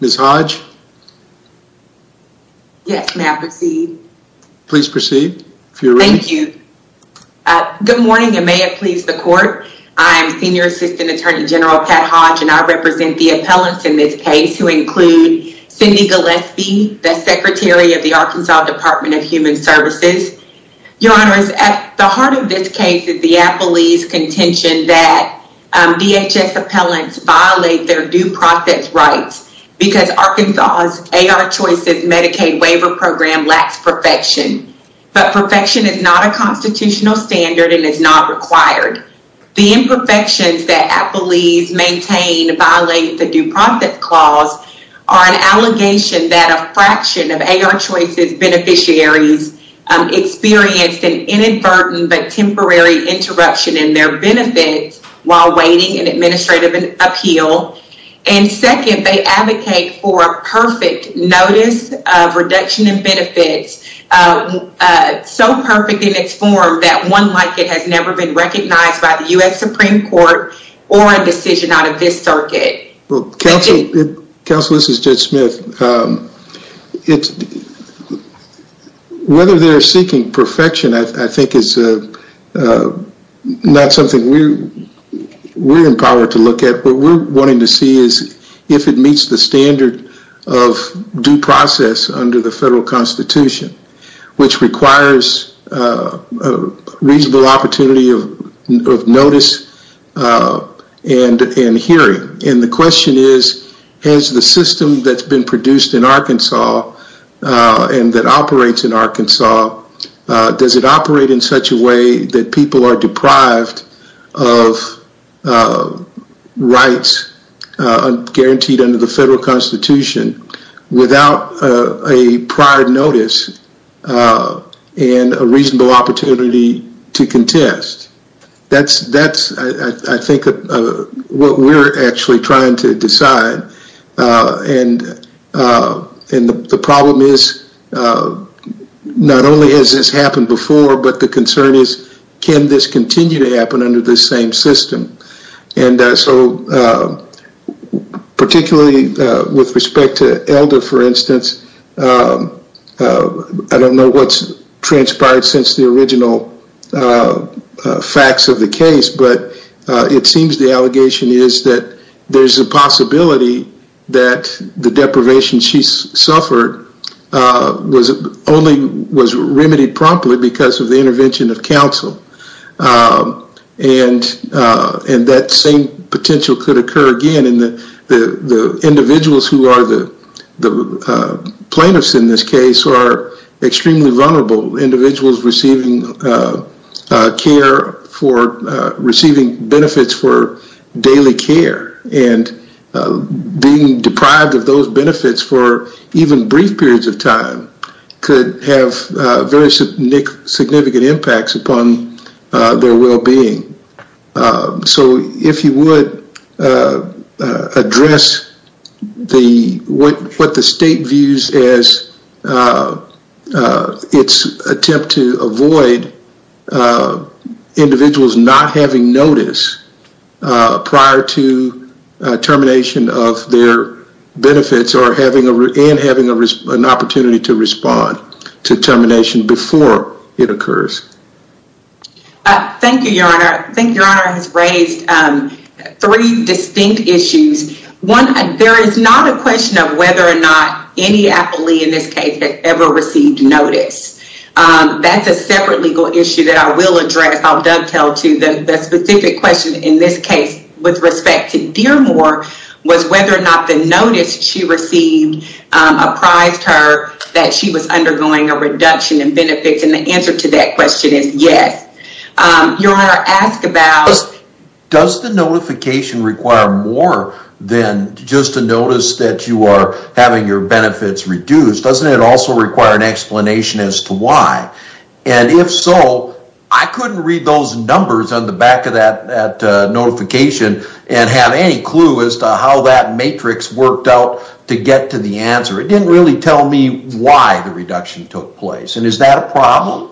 Ms. Hodge. Yes, may I proceed? Please proceed. Thank you. Good morning and may it please the court. I'm Senior Assistant Attorney General Pat Hodge and I represent the appellants in this case who include Cindy Gillespie, the Secretary of the Arkansas Department of Human Services. Your honors, at the heart of this case is the appellee's contention that DHS appellants violate their due process rights because Arkansas's AR Choices Medicaid waiver program lacks perfection, but perfection is not a constitutional standard and is not required. The imperfections that appellees maintain violate the due process clause are an allegation that a fraction of AR Choices beneficiaries experienced an inadvertent but temporary interruption in their benefits while awaiting an administrative appeal and second, they advocate for a perfect notice of reduction in benefits so perfect in its form that one like it has never been recognized by the U.S. Supreme Court or a decision out of this circuit. Counsel, this is Judge Smith. Whether they're seeking perfection I think is not something we're we're empowered to look at. What we're wanting to see is if it meets the standard of due process under the federal constitution which requires a reasonable opportunity of notice and hearing and the question is has the system that's been produced in Arkansas and that operates in Arkansas, does it operate in such a way that people are deprived of rights guaranteed under the federal constitution without a prior notice and a reasonable opportunity to contest. That's I think what we're actually trying to decide and the problem is not only has this happened before but the concern is can this continue to happen under this same system and so particularly with respect to I don't know what's transpired since the original facts of the case but it seems the allegation is that there's a possibility that the deprivation she suffered was only was remedied promptly because of the intervention of counsel and that same in this case are extremely vulnerable individuals receiving care for receiving benefits for daily care and being deprived of those benefits for even brief periods of time could have very significant impacts upon their well-being. So if you would address what the state views as its attempt to avoid individuals not having notice prior to termination of their benefits and having an opportunity to respond to termination before it occurs. Thank you your honor. I think your honor has raised three distinct issues. One there is not a question of whether or not any appellee in this case had ever received notice. That's a separate legal issue that I will address. I'll dovetail to the specific question in this case with respect to Dearmore was whether or not the notice she received apprised her that she was undergoing a reduction in benefits and the answer to that question is yes. Your honor ask about does the notification require more than just a notice that you are having your benefits reduced. Doesn't it also require an explanation as to why and if so I couldn't read those numbers on the back of that notification and have any clue as to how that matrix worked out to get to the answer. It didn't really tell me why the reduction took place and is that a problem?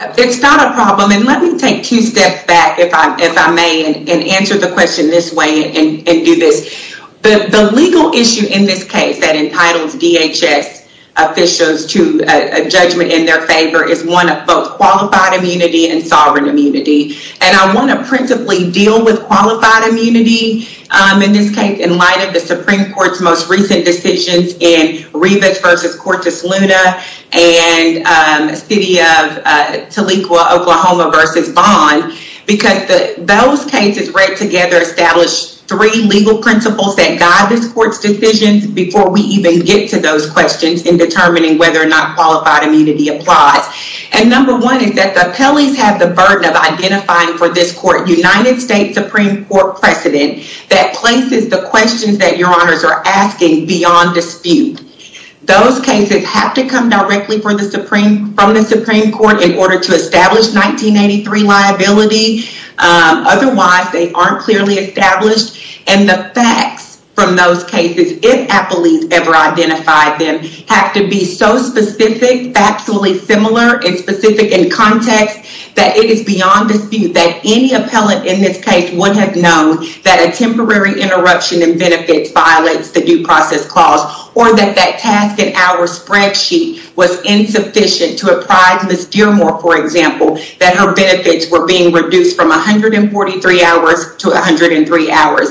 It's not a problem and let me take two steps back if I may and answer the question this way and do this. The legal issue in this case that entitles DHS officials to a judgment in their favor is one of both qualified immunity and sovereign immunity and I want to principally deal with qualified immunity in this case in light of the Supreme Court's most recent decisions in City of Tahlequah Oklahoma versus Vaughn because those cases read together established three legal principles that guide this court's decisions before we even get to those questions in determining whether or not qualified immunity applies and number one is that the appellees have the burden of identifying for this court United States Supreme Court precedent that places the questions that your honors are asking beyond dispute. Those cases have to come directly for the Supreme from the Supreme Court in order to establish 1983 liability otherwise they aren't clearly established and the facts from those cases if appellees ever identified them have to be so specific factually similar and specific in context that it is beyond dispute that any appellant in benefits violates the due process clause or that that task in our spreadsheet was insufficient to apply to Ms. Dearmore for example that her benefits were being reduced from 143 hours to 103 hours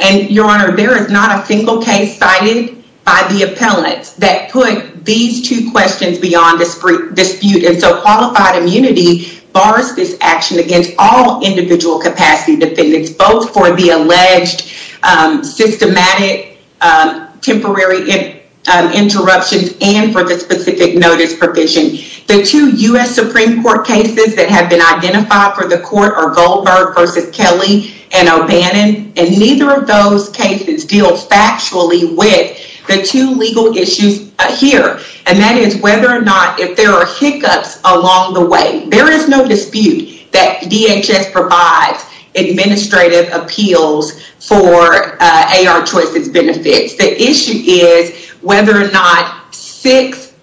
and your honor there is not a single case cited by the appellants that put these two questions beyond dispute and so qualified immunity bars this action against all individual capacity defendants both for the alleged systematic temporary interruptions and for the specific notice provision the two U.S. Supreme Court cases that have been identified for the court are Goldberg versus Kelly and O'Bannon and neither of those cases deals factually with the two legal issues here and that is whether or not if there are hiccups along the way there is no dispute that appeals for AR choices benefits the issue is whether or not six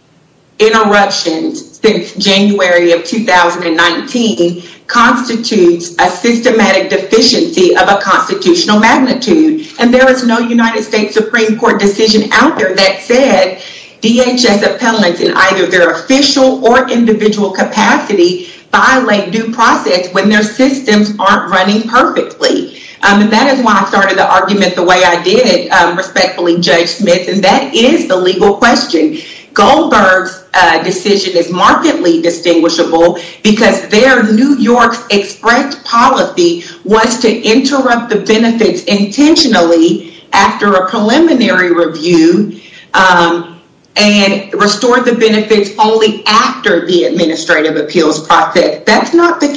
interruptions since January of 2019 constitutes a systematic deficiency of a constitutional magnitude and there is no United States Supreme Court decision out there that said DHS appellants in either their official or and that is why I started the argument the way I did it respectfully Judge Smith and that is the legal question Goldberg's decision is markedly distinguishable because their New York's express policy was to interrupt the benefits intentionally after a preliminary review and restore the benefits only after the administrative appeals process that's not the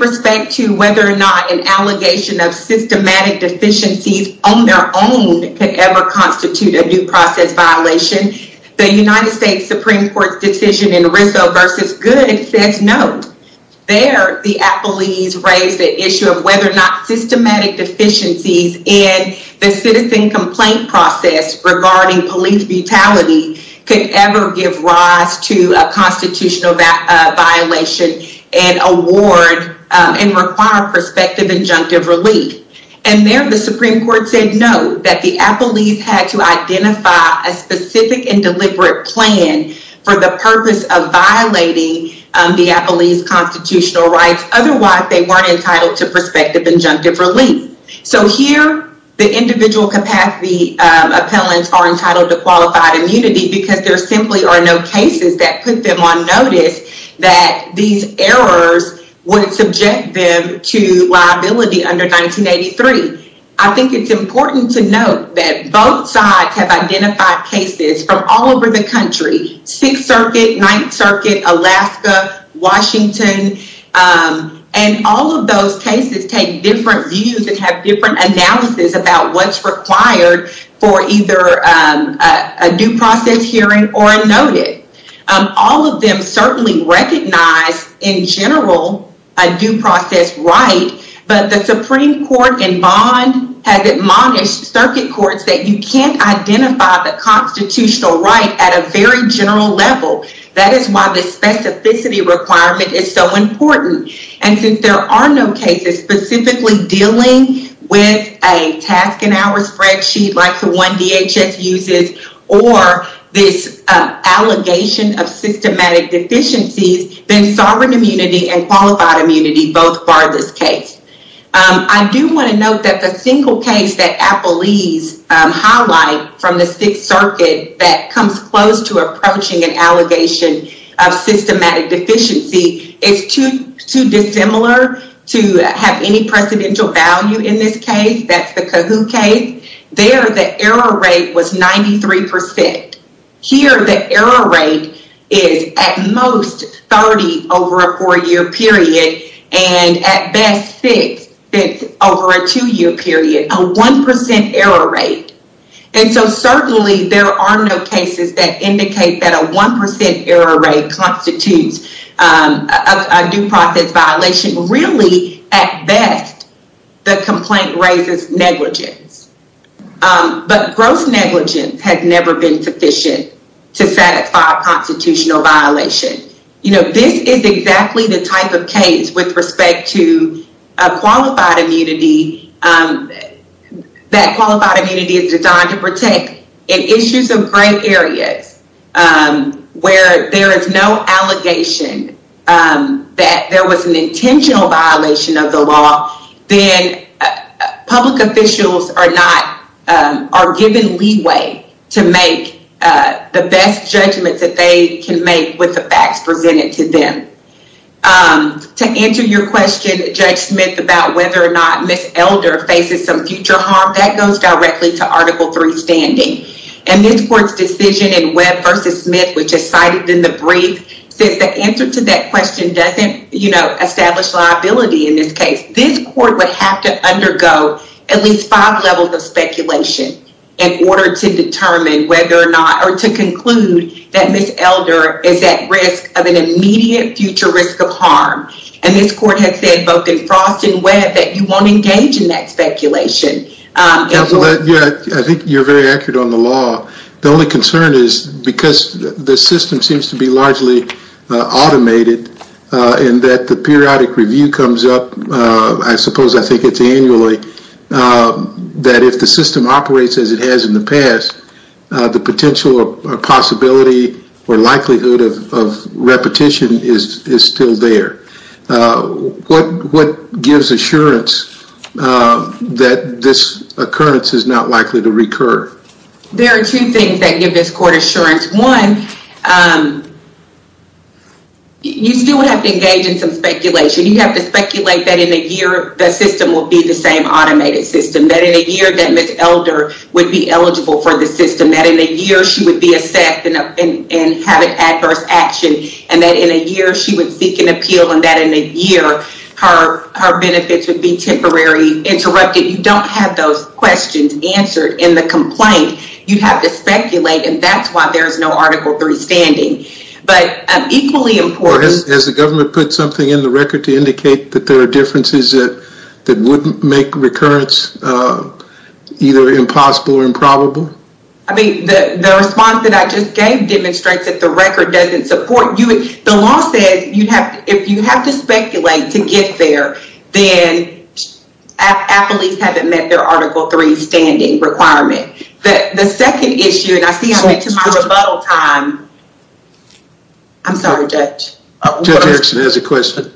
respect to whether or not an allegation of systematic deficiencies on their own could ever constitute a due process violation the United States Supreme Court's decision in Rizzo versus good says no there the appellees raised the issue of whether or not systematic deficiencies in the citizen complaint process regarding police brutality could ever give rise to a constitutional violation and award and require prospective injunctive relief and there the Supreme Court said no that the appellees had to identify a specific and deliberate plan for the purpose of violating the appellees constitutional rights otherwise they weren't entitled to prospective injunctive relief so here the individual capacity appellants are entitled to qualified immunity because there simply are no cases that put them on notice that these errors would subject them to liability under 1983 I think it's important to note that both sides have identified cases from all over the country 6th circuit 9th circuit Alaska Washington and all of those cases take different views and have different analysis about what's required for either a due process hearing or a noted all of them certainly recognize in general a due process right but the Supreme Court in bond has admonished circuit courts that you can't identify the constitutional right at a very general level that is why the specificity requirement is so important and since there are no cases specifically dealing with a task and hours spreadsheet like the one DHS uses or this allegation of systematic deficiencies then sovereign immunity and qualified immunity both bar this case I do want to note that the single case that appellees highlight from the 6th circuit that comes close to approaching an allegation of systematic deficiency is too dissimilar to have any precedential value in this case that's the kahoot case there the error rate was 93 percent here the error rate is at most 30 over a four-year period and at best six over a two-year period a 1% error rate and so certainly there are no cases that indicate that a 1% error rate constitutes a due process violation really at best the complaint raises negligence but gross negligence has never been sufficient to satisfy a constitutional violation you know this is that qualified immunity is designed to protect in issues of gray areas where there is no allegation that there was an intentional violation of the law then public officials are not are given leeway to make the best judgments that they can make with the facts presented to them um to answer your question judge smith about whether or not miss elder faces some future harm that goes directly to article 3 standing and this court's decision in webb versus smith which is cited in the brief says the answer to that question doesn't you know establish liability in this case this court would have to undergo at least five levels of speculation in order to determine whether or not or to conclude that miss elder is at risk of an immediate future risk of harm and this court has said both in frost and webb that you won't engage in that speculation i think you're very accurate on the law the only concern is because the system seems to be largely automated and that the periodic review comes up i suppose i think it's annually um that if the system operates as it has in the past uh the potential or possibility or likelihood of repetition is is still there uh what what gives assurance uh that this occurrence is not likely to recur there are two things that give this court assurance one um you still have to engage in some speculation you have to speculate that in a year the system will be the same automated system that in a year that miss elder would be eligible for the system that in a year she would be a set and and have an adverse action and that in a year she would seek an appeal and that in a year her her benefits would be temporary interrupted you don't have those questions answered in the complaint you have to speculate and that's why there is no article 3 standing but um equally important as the government put something in the record to indicate that there are differences that that wouldn't make recurrence uh either impossible or improbable i mean the the response that i just gave demonstrates that the record doesn't support you the law says you'd have if you have to speculate to get there then at least haven't met their article 3 standing requirement the the second issue and i see i'm at my rebuttal time i'm sorry judge judge erickson has a question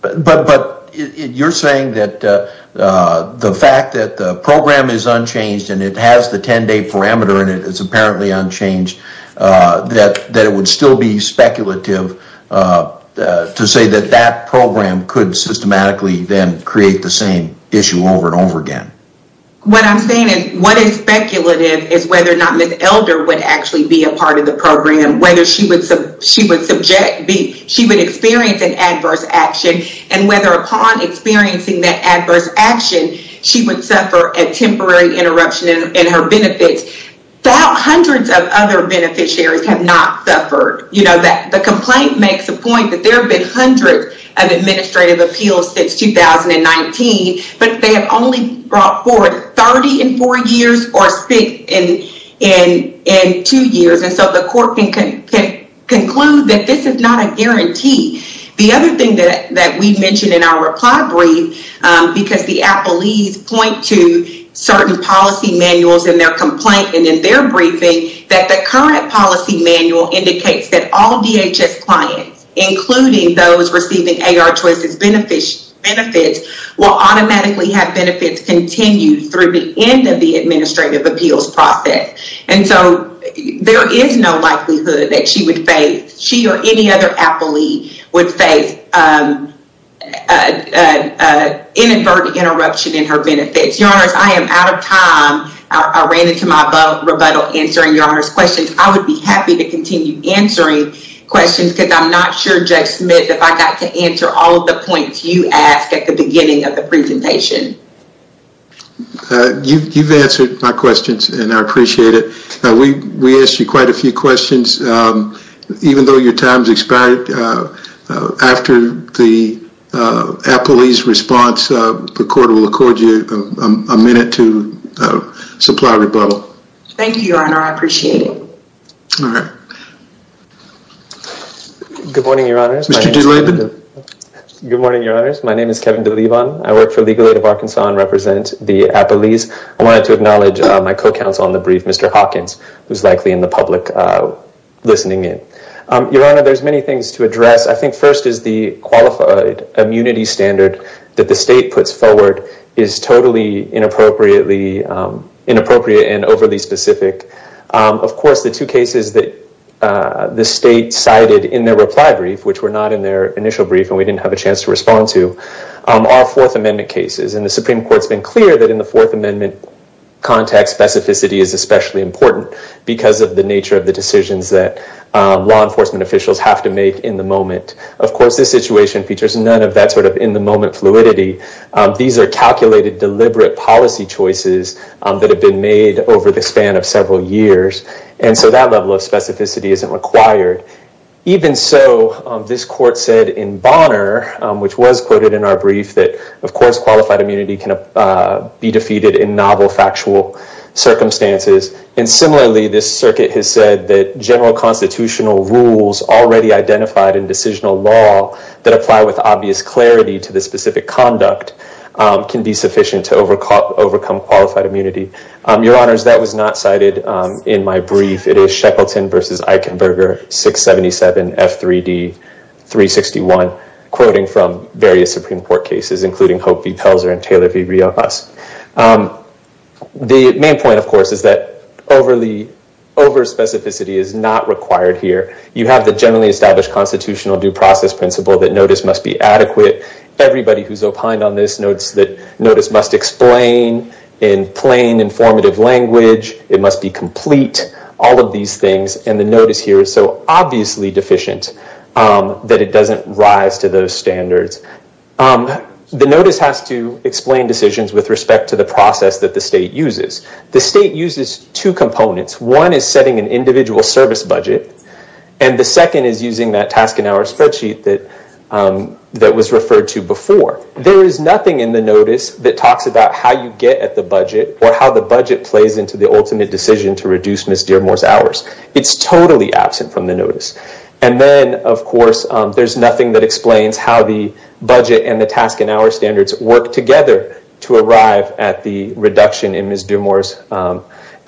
but but you're saying that uh uh the fact that the program is unchanged and it has the 10-day parameter and it is apparently unchanged uh that that it would still be speculative uh to say that that program could systematically then create the same issue over and over again what i'm saying is what is speculative is whether or not miss elder would actually be a part of the program whether she would she would subject be she would experience an adverse action and whether upon experiencing that adverse action she would suffer a temporary interruption in her benefits about hundreds of other beneficiaries have not suffered you know that the complaint makes a point that there have been hundreds of administrative appeals since 2019 but they have only brought forward 30 in four years or six in in in two years and so the court can can conclude that this is not a guarantee the other thing that that we mentioned in our reply brief um because the appellees point to certain policy manuals in their complaint and in their briefing that the current policy manual indicates that all dhs clients including those automatically have benefits continued through the end of the administrative appeals process and so there is no likelihood that she would face she or any other appellee would face um uh uh inadvertent interruption in her benefits your honors i am out of time i ran into my rebuttal answering your honor's questions i would be happy to continue answering questions because i'm not sure jay smith if i got to answer all the points you asked at the beginning of the presentation uh you you've answered my questions and i appreciate it we we asked you quite a few questions um even though your time's expired uh after the uh appellee's response uh the court will accord you a minute to uh supply rebuttal thank you your honor i appreciate it all right good morning your honors good morning your honors my name is kevin de levon i work for legal aid of arkansas and represent the appellees i wanted to acknowledge my co-counsel on the brief mr hawkins who's likely in the public uh listening in um your honor there's many things to address i think first is the qualified immunity standard that the state puts forward is totally inappropriately um inappropriate and overly specific um of course the two cases that uh the state cited in their reply brief which were not in their initial brief and we didn't have a chance to respond to are fourth amendment cases and the supreme court's been clear that in the fourth amendment context specificity is especially important because of the nature of the decisions that law enforcement officials have to make in the moment of course this situation features none of that sort of in the moment fluidity these are calculated deliberate policy choices that have been made over the span of several years and so that level of specificity isn't required even so this court said in bonner which was quoted in our brief that of course qualified immunity can be defeated in novel factual circumstances and similarly this circuit has said that general constitutional rules already identified in decisional law that apply with obvious clarity to the specific conduct can be sufficient to overcome qualified immunity your honors that was not cited in my brief it is shekelton versus eichenberger 677 f3d 361 quoting from various supreme court cases including hope v pelzer and taylor v rio us the main point of course is that overly over specificity is not required here you have the generally established constitutional due process principle that notice must be adequate everybody who's opined on this notes that notice must explain in plain informative language it must be complete all of these things and the notice here is so obviously deficient that it doesn't rise to those standards the notice has to explain decisions with respect to the process that the state uses the state uses two components one is setting an individual service budget and the second is using that task and hour spreadsheet that was referred to before there is nothing in the notice that talks about how you get at the budget or how the budget plays into the ultimate decision to reduce miss dearmore's hours it's totally absent from the notice and then of course there's nothing that explains how the budget and the task and hour standards work together to arrive at the reduction in miss dearmore's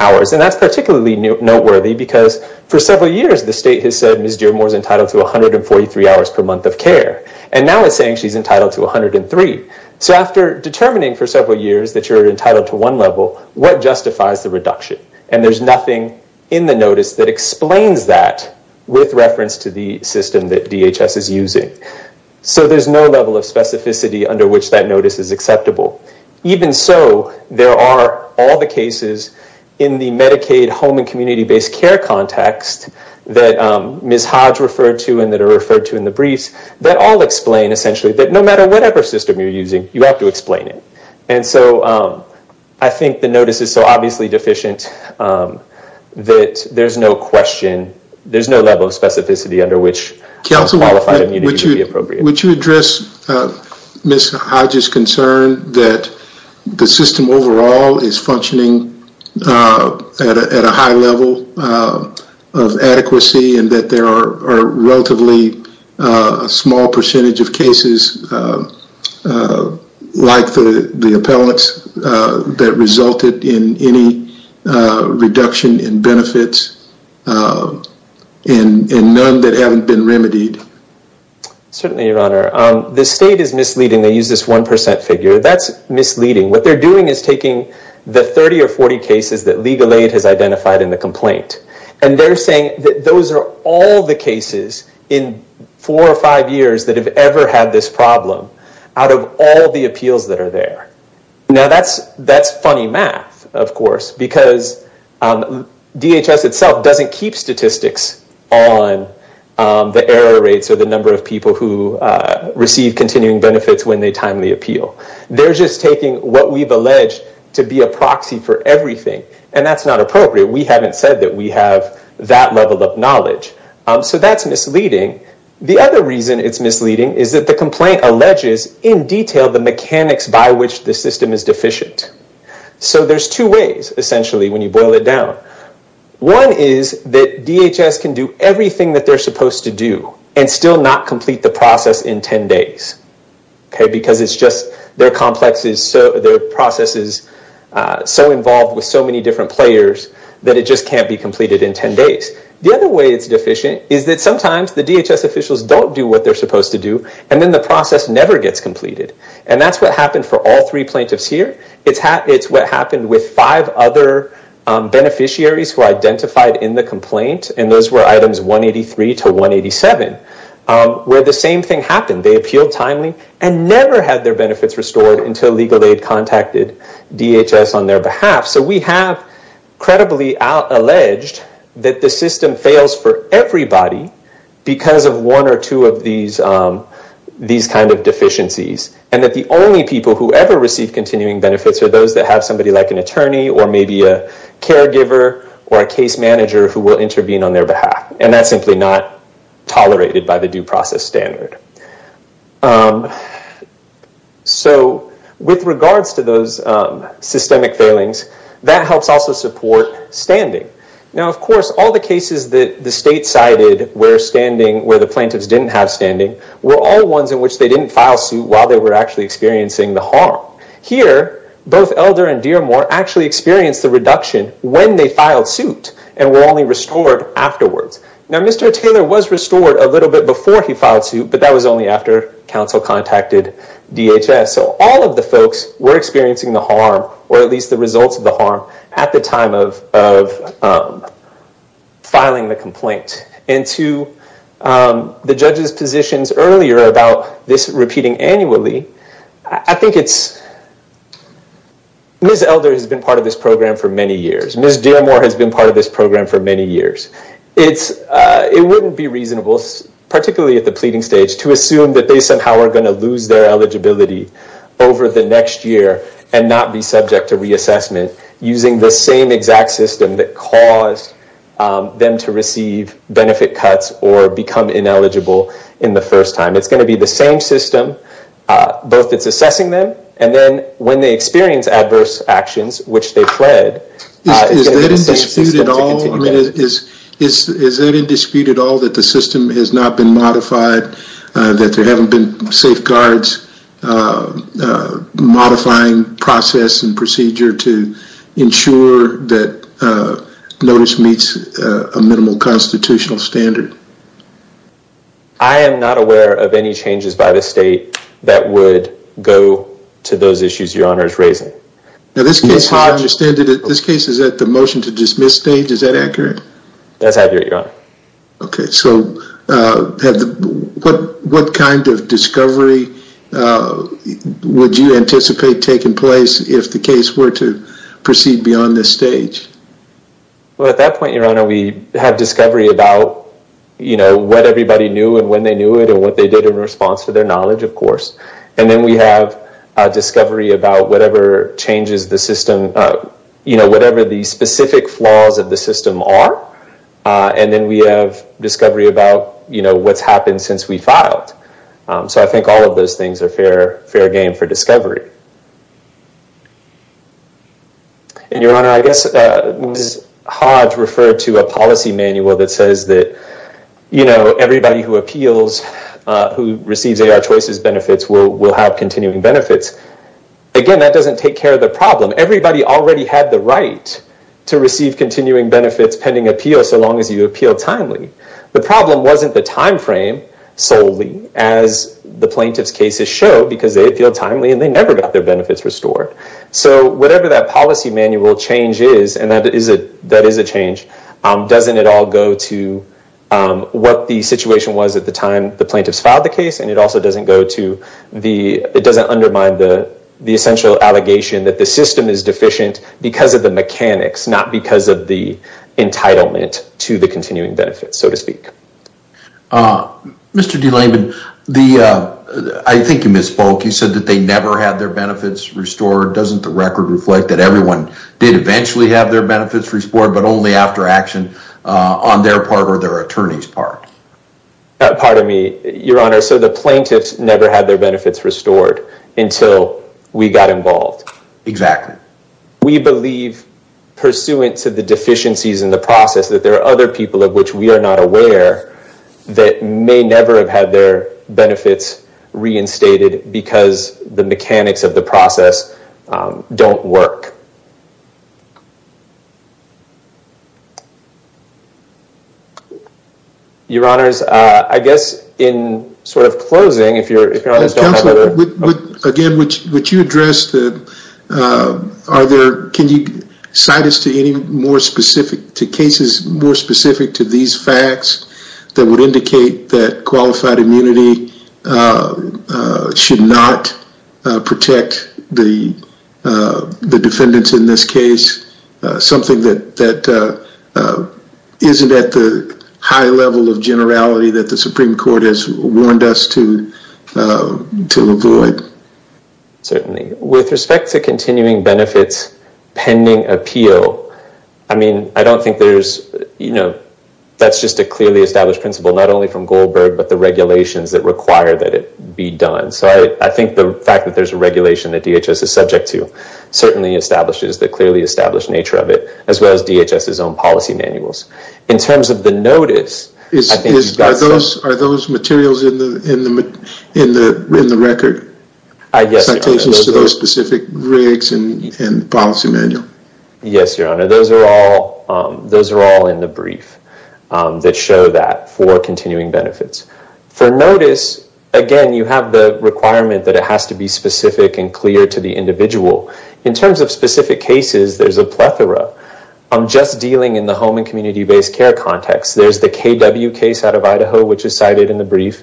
hours and that's particularly noteworthy because for several years the state has said miss dearmore's entitled to 143 hours per month of care and now it's saying she's entitled to 103 so after determining for several years that you're entitled to one level what justifies the reduction and there's nothing in the notice that explains that with reference to the system that dhs is using so there's no level of specificity under which that notice is acceptable even so there are all the cases in the medicaid home and community-based care context that ms hodge referred to and that are referred to in the briefs that all explain essentially that no matter whatever system you're using you have to explain it and so i think the notice is so obviously deficient that there's no question there's no level of specificity under which counsel would you be appropriate would you address miss hodge's concern that the system overall is functioning at a high level of adequacy and that there are relatively a small percentage of cases like the the appellants that resulted in any reduction in benefits um and and none that haven't been remedied certainly your honor um the state is misleading they use this one percent figure that's misleading what they're doing is taking the 30 or 40 cases that legal aid has identified in the complaint and they're saying that those are all the cases in four or five years that have ever had this problem out of all the appeals that now that's that's funny math of course because dhs itself doesn't keep statistics on the error rates or the number of people who receive continuing benefits when they timely appeal they're just taking what we've alleged to be a proxy for everything and that's not appropriate we haven't said that we have that level of knowledge so that's misleading the other reason it's misleading is that the complaint alleges in detail the mechanics by which the system is deficient so there's two ways essentially when you boil it down one is that dhs can do everything that they're supposed to do and still not complete the process in 10 days okay because it's just their complexes so their processes uh so involved with so many different players that it just can't be completed in 10 days the other way it's deficient is that sometimes the dhs officials don't do what they're supposed to do and then the process never gets completed and that's what happened for all three plaintiffs here it's how it's what happened with five other beneficiaries who identified in the complaint and those were items 183 to 187 where the same thing happened they appealed timely and never had their benefits restored until legal aid contacted dhs on their behalf so we have credibly out alleged that the system fails for everybody because of one or two of these kind of deficiencies and that the only people who ever receive continuing benefits are those that have somebody like an attorney or maybe a caregiver or a case manager who will intervene on their behalf and that's simply not tolerated by the due process standard so with regards to those systemic failings that helps also support standing now of course all the cases that the state cited where standing where the plaintiffs didn't have standing were all ones in which they didn't file suit while they were actually experiencing the harm here both elder and dearmore actually experienced the reduction when they filed suit and were only restored afterwards now mr taylor was restored a little bit before he filed suit but that was only after council contacted dhs so all of the folks were experiencing the harm or at least the results of the harm at the time of of filing the complaint and to the judges positions earlier about this repeating annually i think it's ms elder has been part of this program for many years ms dearmore has been part of this program for many years it's uh it wouldn't be reasonable particularly at the pleading stage to assume that they somehow are going to lose their eligibility over the next year and not be subject to reassessment using the same exact system that caused them to receive benefit cuts or become ineligible in the first time it's going to be the same system uh both it's assessing them and then when they experience adverse actions which they fled is that in dispute at all i mean is is is in dispute at all that the system has not been modified that there haven't been safeguards modifying process and procedure to ensure that notice meets a minimal constitutional standard i am not aware of any changes by the state that would go to those issues your honor is raising now this case is how i understand it this case is that the motion to dismiss stage is that accurate that's accurate your honor okay so uh had what what kind of discovery uh would you anticipate taking place if the case were to proceed beyond this stage well at that point your honor we have discovery about you know what everybody knew and when they knew it and what they did in response for their knowledge of course and then we have a discovery about whatever changes the system uh you know whatever the specific flaws of the system are uh and then we have discovery about you know what's happened since we filed um so i think all of those things are fair fair game for discovery and your honor i guess uh hodge referred to a policy manual that says that you know everybody who appeals uh who receives a our choices benefits will will have continuing benefits again that doesn't take care of the problem everybody already had the right to receive continuing benefits pending appeal so long as you appeal timely the problem wasn't the time frame solely as the plaintiffs cases show because they feel timely and they never got their benefits restored so whatever that policy manual change is and that is a that is a change um doesn't at all go to um what the situation was at the time the plaintiffs filed the case and it also doesn't go to the it doesn't undermine the the essential allegation that the system is deficient because of the mechanics not because of the entitlement to the continuing benefits so to speak uh mr. de layman the uh i think you misspoke you said that they never had their benefits restored doesn't the record reflect that everyone did eventually have their benefits restored but only after action uh on their part or their attorney's part pardon me your honor so the plaintiffs never had their benefits restored until we got involved exactly we believe pursuant to the deficiencies in the process that there are other people of which we are not aware that may never have had their benefits reinstated because the mechanics of the process um don't work your honors uh i guess in sort of closing if you're if you're again which would you address the uh are there can you cite us to any more specific to cases more specific to these facts that would indicate that qualified immunity should not protect the the defendants in this case something that that isn't at the high level of generality that the supreme court has warned us to to avoid certainly with respect to continuing benefits pending appeal i mean i don't think there's you know that's just a clearly established principle not only from goldberg but the regulations that require that it be done so i i think the fact that there's a regulation that dhs is subject to certainly establishes the clearly established nature of it as well as dhs's own policy manuals in terms of is is are those are those materials in the in the in the record i guess those specific rigs and and policy manual yes your honor those are all um those are all in the brief um that show that for continuing benefits for notice again you have the requirement that it has to be specific and clear to the individual in terms of specific cases there's a plethora i'm just dealing in the home and community-based care context there's the kw case out of idaho which is cited in the brief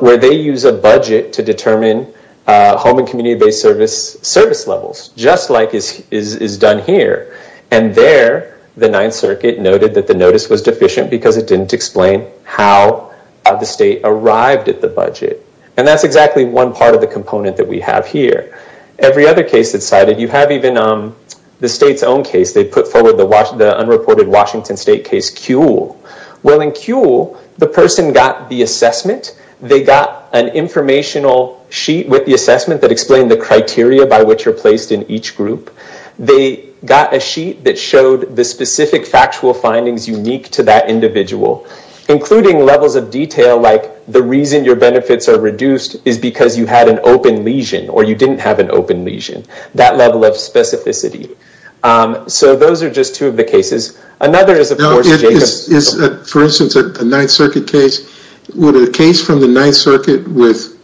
where they use a budget to determine home and community-based service service levels just like is is is done here and there the ninth circuit noted that the notice was deficient because it didn't explain how the state arrived at the budget and that's exactly one part of the component that we have here every other case that's cited you have even um the state's own case they put forward the wash the unreported washington state case kewl well in kewl the person got the assessment they got an informational sheet with the assessment that explained the criteria by which you're placed in each group they got a sheet that showed the specific factual findings unique to that individual including levels of detail like the reason your benefits are reduced is because you had an open lesion or you didn't have an open lesion that level of specificity um so those are just two of the cases another is of course is for instance a ninth circuit case would a case from the ninth circuit with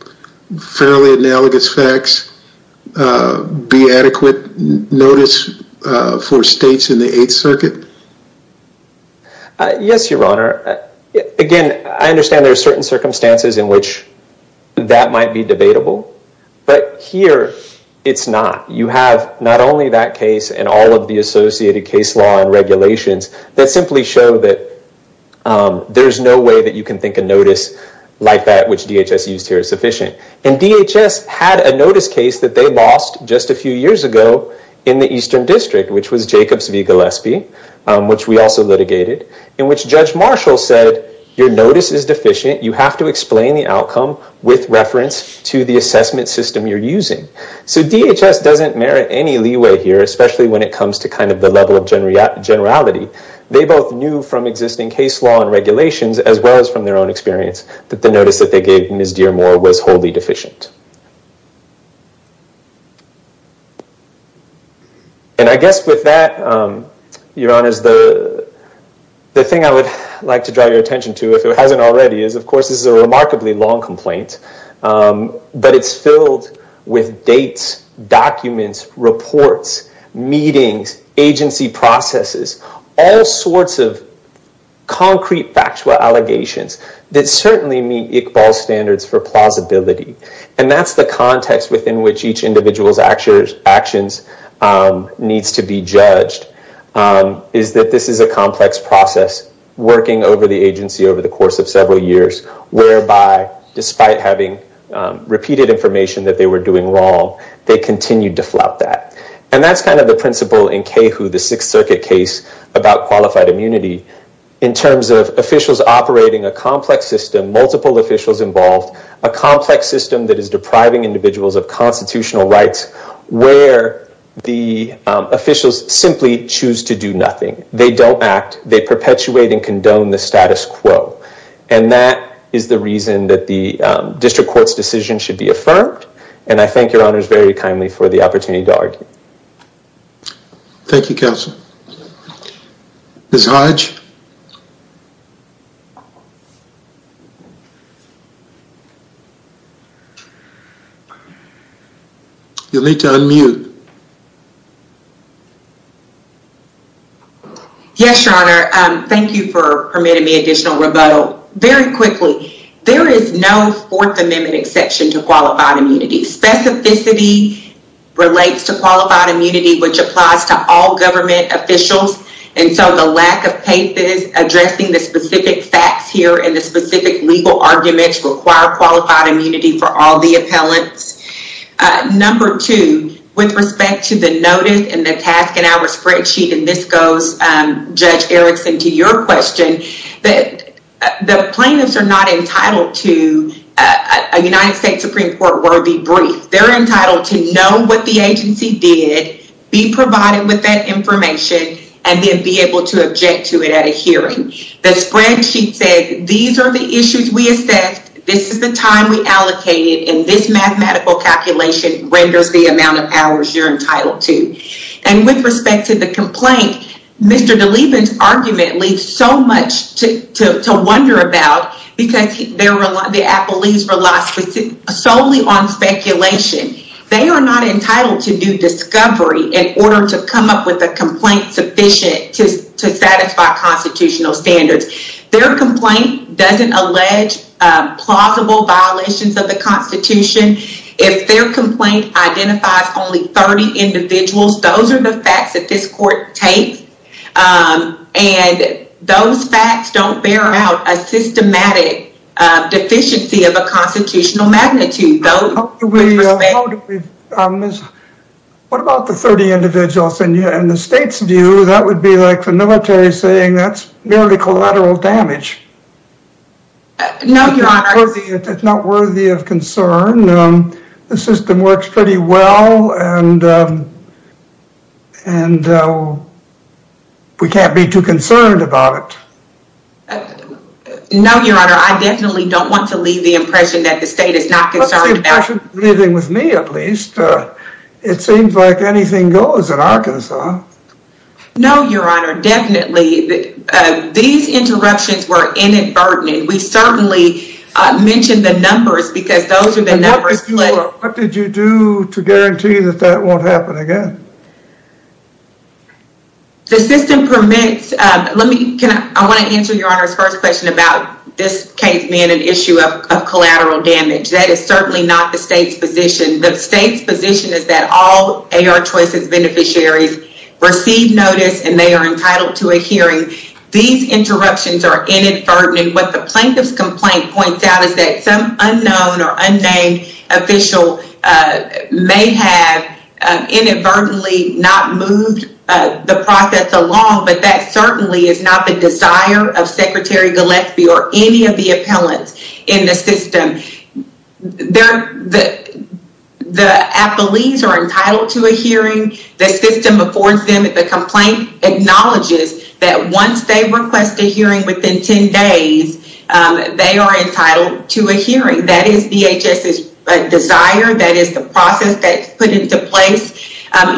fairly analogous facts uh be adequate notice uh for states in the eighth circuit yes your honor again i understand there are certain circumstances in which that might be debatable but here it's not you have not only that case and all of the associated case law and regulations that simply show that there's no way that you can think of notice like that which dhs used here is sufficient and dhs had a notice case that they lost just a few years ago in the eastern district which was jacobs v gillespie which we also litigated in which judge marshall said your notice is deficient you have to explain the outcome with reference to the assessment system you're using so dhs doesn't merit any leeway here especially when it comes to kind of the level of generality they both knew from existing case law and regulations as well as from their own experience that the notice that they gave ms dearmore was wholly deficient and i guess with that um your honor is the the thing i would like to draw your attention to if it hasn't already is of course this is a remarkably long complaint um but it's filled with dates documents reports meetings agency processes all sorts of concrete factual allegations that that's the context within which each individual's actions actions needs to be judged is that this is a complex process working over the agency over the course of several years whereby despite having repeated information that they were doing wrong they continued to flop that and that's kind of the principle in kahu the sixth circuit case about qualified immunity in terms of officials operating a complex system multiple officials involved a complex system that is depriving individuals of constitutional rights where the officials simply choose to do nothing they don't act they perpetuate and condone the status quo and that is the reason that the district court's decision should be affirmed and i thank your honors very kindly for the opportunity to argue thank you counsel ms hodge you'll need to unmute yes your honor um thank you for permitting me additional rebuttal very quickly there is no fourth amendment exception to qualified immunity specificity relates to qualified immunity which applies to all government officials and so the lack of cases addressing the specific facts here and the specific legal arguments require qualified immunity for all the appellants number two with respect to the notice and the task and our spreadsheet and this goes um judge erickson to your question that the plaintiffs are not entitled to a united states supreme court worthy they're entitled to know what the agency did be provided with that information and then be able to object to it at a hearing the spreadsheet said these are the issues we assessed this is the time we allocated and this mathematical calculation renders the amount of hours you're entitled to and with respect to the complaint mr delevin's argument leaves so much to to wonder about because there were the appellees were lost solely on speculation they are not entitled to do discovery in order to come up with a complaint sufficient to to satisfy constitutional standards their complaint doesn't allege plausible violations of the constitution if their complaint identifies only 30 individuals those are the facts that this court takes um and those facts don't bear out a systematic uh deficiency of a constitutional magnitude what about the 30 individuals and the state's view that would be like the military saying that's nearly collateral damage no your honor it's not worthy of concern um the system works pretty well and um and uh we can't be too concerned about it no your honor i definitely don't want to leave the impression that the state is not concerned leaving with me at least uh it seems like anything goes in arkansas no your honor definitely these interruptions were inadvertent we certainly uh mentioned the numbers because those are the numbers what did you do to guarantee that that won't happen again the system permits um let me can i want to answer your honor's first question about this case being an issue of collateral damage that is certainly not the state's position the state's position is that all ar choices beneficiaries receive notice and they are entitled to a hearing these interruptions are inadvertent and what the plaintiff's complaint points out is that some unknown or unnamed official uh may have inadvertently not moved uh the process along but that certainly is not the desire of secretary gillespie or any of the appellants in the system they're the the affilies are entitled to a hearing the system affords them the complaint acknowledges that once they request a hearing within 10 days they are entitled to a hearing that is dhs's desire that is the process that's put into place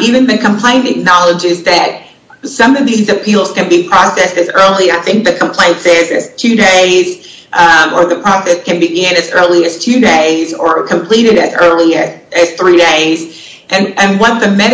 even the complaint acknowledges that some of these appeals can be processed as early i think the complaint says it's two days or the process can begin as early as two days or completed as early as three days and and what the 42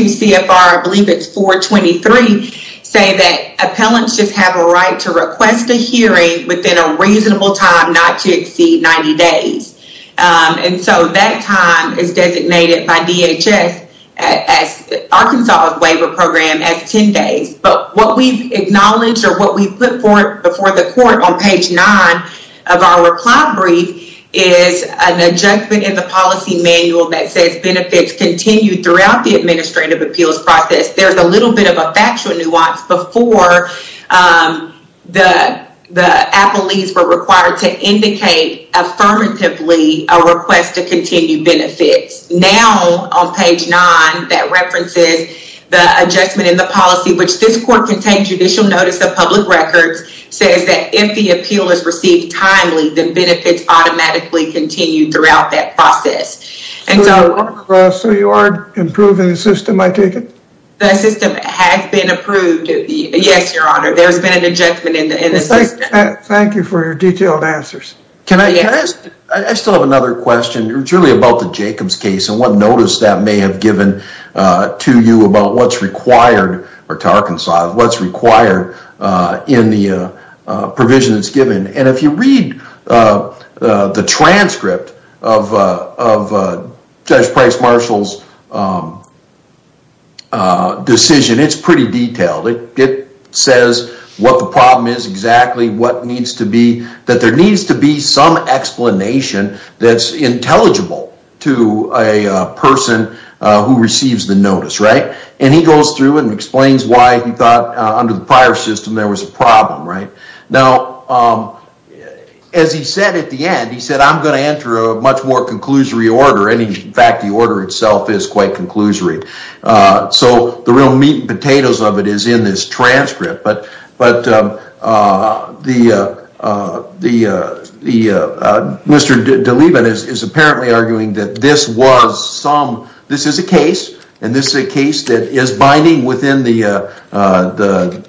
cfr i believe it's 423 say that appellants just have a right to request a hearing within a reasonable time not to exceed 90 days um and so that time is designated by dhs as arkansas's waiver program as 10 days but what we've acknowledged or what we've put for before the court on page nine of our reply brief is an adjustment in the policy manual that says continued throughout the administrative appeals process there's a little bit of a factual nuance before um the the appellees were required to indicate affirmatively a request to continue benefits now on page nine that references the adjustment in the policy which this court contains judicial notice of public records says that if the appeal is received timely the benefits automatically continue throughout that process and so so you are improving the system i take it the system has been approved yes your honor there's been an adjustment in the system thank you for your detailed answers can i ask i still have another question it's really about the jacobs case and what notice that may have given uh to you about what's required or to the transcript of uh of uh judge price marshall's um uh decision it's pretty detailed it it says what the problem is exactly what needs to be that there needs to be some explanation that's intelligible to a person who receives the notice right and he goes through and explains why he under the prior system there was a problem right now um as he said at the end he said i'm going to enter a much more conclusory order and in fact the order itself is quite conclusory uh so the real meat and potatoes of it is in this transcript but but um uh the uh uh the uh the uh mr delevin is apparently arguing that this was some this is a case and this is a case that is within the uh uh the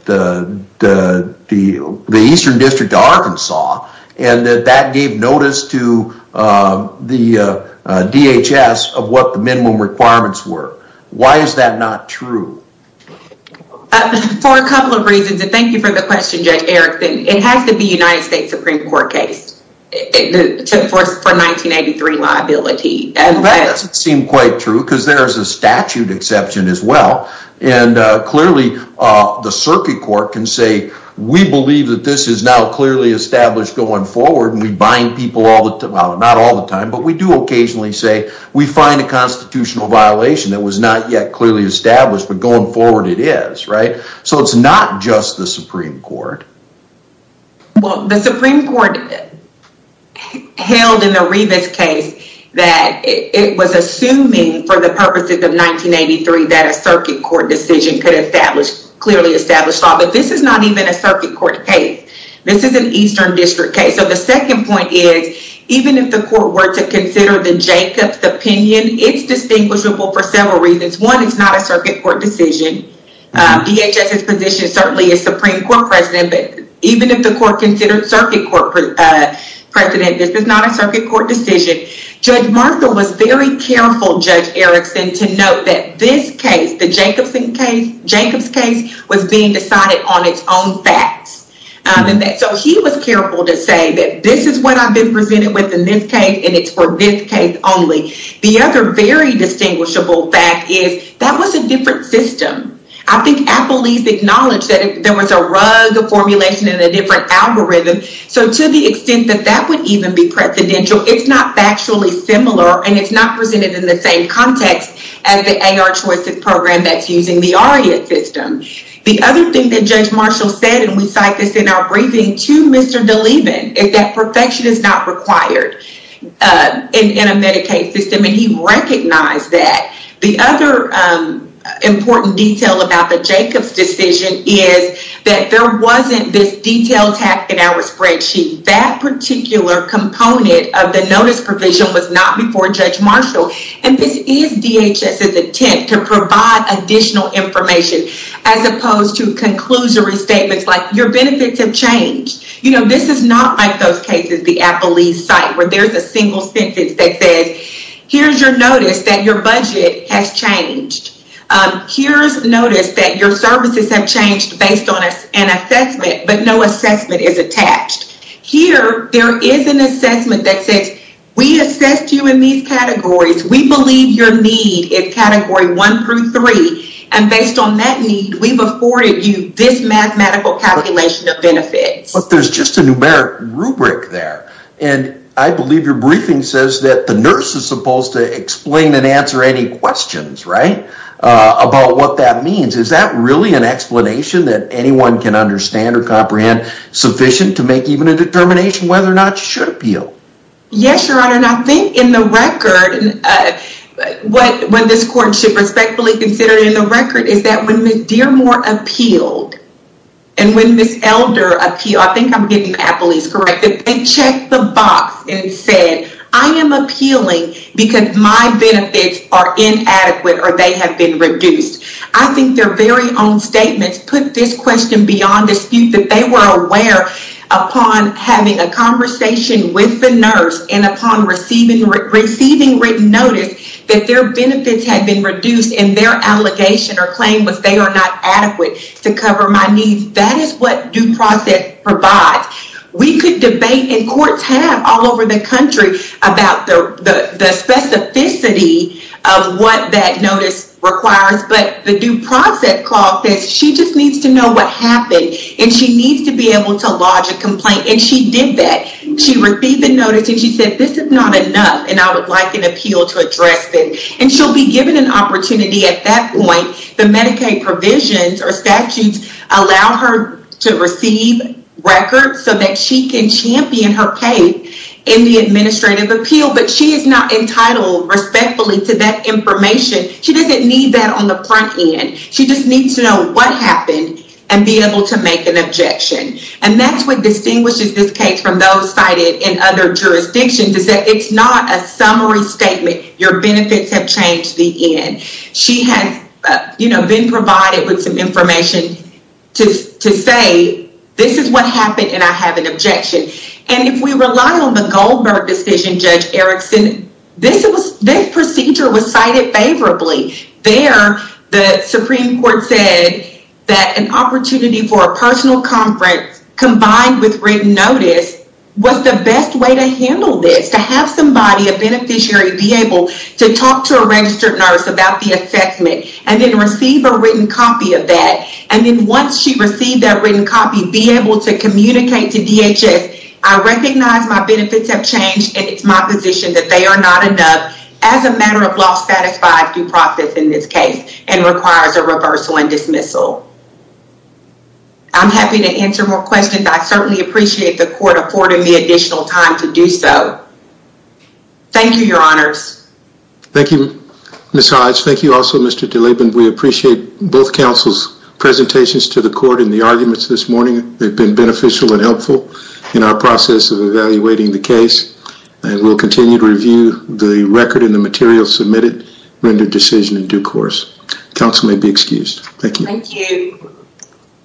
the the the eastern district of arkansas and that that gave notice to uh the uh dhs of what the minimum requirements were why is that not true for a couple of reasons and thank you for the question judge erickson it has to be united states supreme court case it took force for 1983 liability and that doesn't seem quite true because there's a statute exception as well and uh clearly uh the circuit court can say we believe that this is now clearly established going forward and we bind people all the time not all the time but we do occasionally say we find a constitutional violation that was not yet clearly established but going forward it is right so it's not just the supreme court well the supreme court held in the rebus case that it was assuming for the purposes of 1983 that a circuit court decision could establish clearly established law but this is not even a circuit court case this is an eastern district case so the second point is even if the court were to consider the jacobs opinion it's distinguishable for several reasons one is not a circuit court decision uh dhs's position certainly as supreme court president but even if the court considered circuit court uh precedent this is not a circuit court decision judge martha was very careful judge erickson to note that this case the jacobson case jacobs case was being decided on its own facts um and that so he was careful to say that this is what i've been presented with in this case and it's for this case only the other very distinguishable fact is that was a different system i think apple leaves acknowledged that there was a rug formulation in a different algorithm so to the extent that that would even be precedential it's not factually similar and it's not presented in the same context as the ar choice program that's using the aria system the other thing that judge marshall said and we cite this in our briefing to mr delevin is that perfection is not required uh in a medicaid system and he recognized that the other um important detail about the jacobs decision is that there wasn't this detailed fact in our spreadsheet that particular component of the notice provision was not before judge marshall and this is dhs's attempt to provide additional information as opposed to conclusory statements like your benefits have changed you know this is not like those cases the apple leaf site where there's a single sentence that says here's your notice that your budget has changed um here's notice that your services have changed based on an assessment but no assessment is attached here there is an assessment that says we assessed you in these categories we believe your need is category one through three and based on that need we've afforded you this mathematical calculation of benefits but there's just a numeric rubric there and i believe your briefing says that the nurse is supposed to explain and answer any questions right uh about what that means is that really an explanation that anyone can understand or comprehend sufficient to make even a determination whether or not you should appeal yes your honor and i think in the record what when this court should respectfully consider in the record is that when miss dearmore appealed and when miss elder appealed i think i'm getting that police corrected they checked the box and said i am appealing because my benefits are inadequate or they have been reduced i think their very own statements put this question beyond dispute that they were aware upon having a conversation with the nurse and upon receiving receiving written that their benefits had been reduced and their allegation or claim was they are not adequate to cover my needs that is what due process provides we could debate and courts have all over the country about the the specificity of what that notice requires but the due process clause says she just needs to know what happened and she needs to be able to lodge a complaint and she did that she received the notice and she said this is not enough and i would like an appeal to address this and she'll be given an opportunity at that point the medicaid provisions or statutes allow her to receive records so that she can champion her case in the administrative appeal but she is not entitled respectfully to that information she doesn't need that on the front end she just needs to know what happened and be able to make an objection and that's what distinguishes this from those cited in other jurisdictions is that it's not a summary statement your benefits have changed the end she has you know been provided with some information to to say this is what happened and i have an objection and if we rely on the goldberg decision judge erickson this was this procedure was cited favorably there the supreme court said that an opportunity for a was the best way to handle this to have somebody a beneficiary be able to talk to a registered nurse about the affectment and then receive a written copy of that and then once she received that written copy be able to communicate to dhs i recognize my benefits have changed and it's my position that they are not enough as a matter of law satisfied due process in this case and requires a reversal and dismissal i'm happy to answer more questions i certainly appreciate the court affording me additional time to do so thank you your honors thank you miss hives thank you also mr deleben we appreciate both council's presentations to the court and the arguments this morning they've been beneficial and helpful in our process of evaluating the case and we'll continue to review the record and the material submitted render decision in due course council may be excused thank you thank you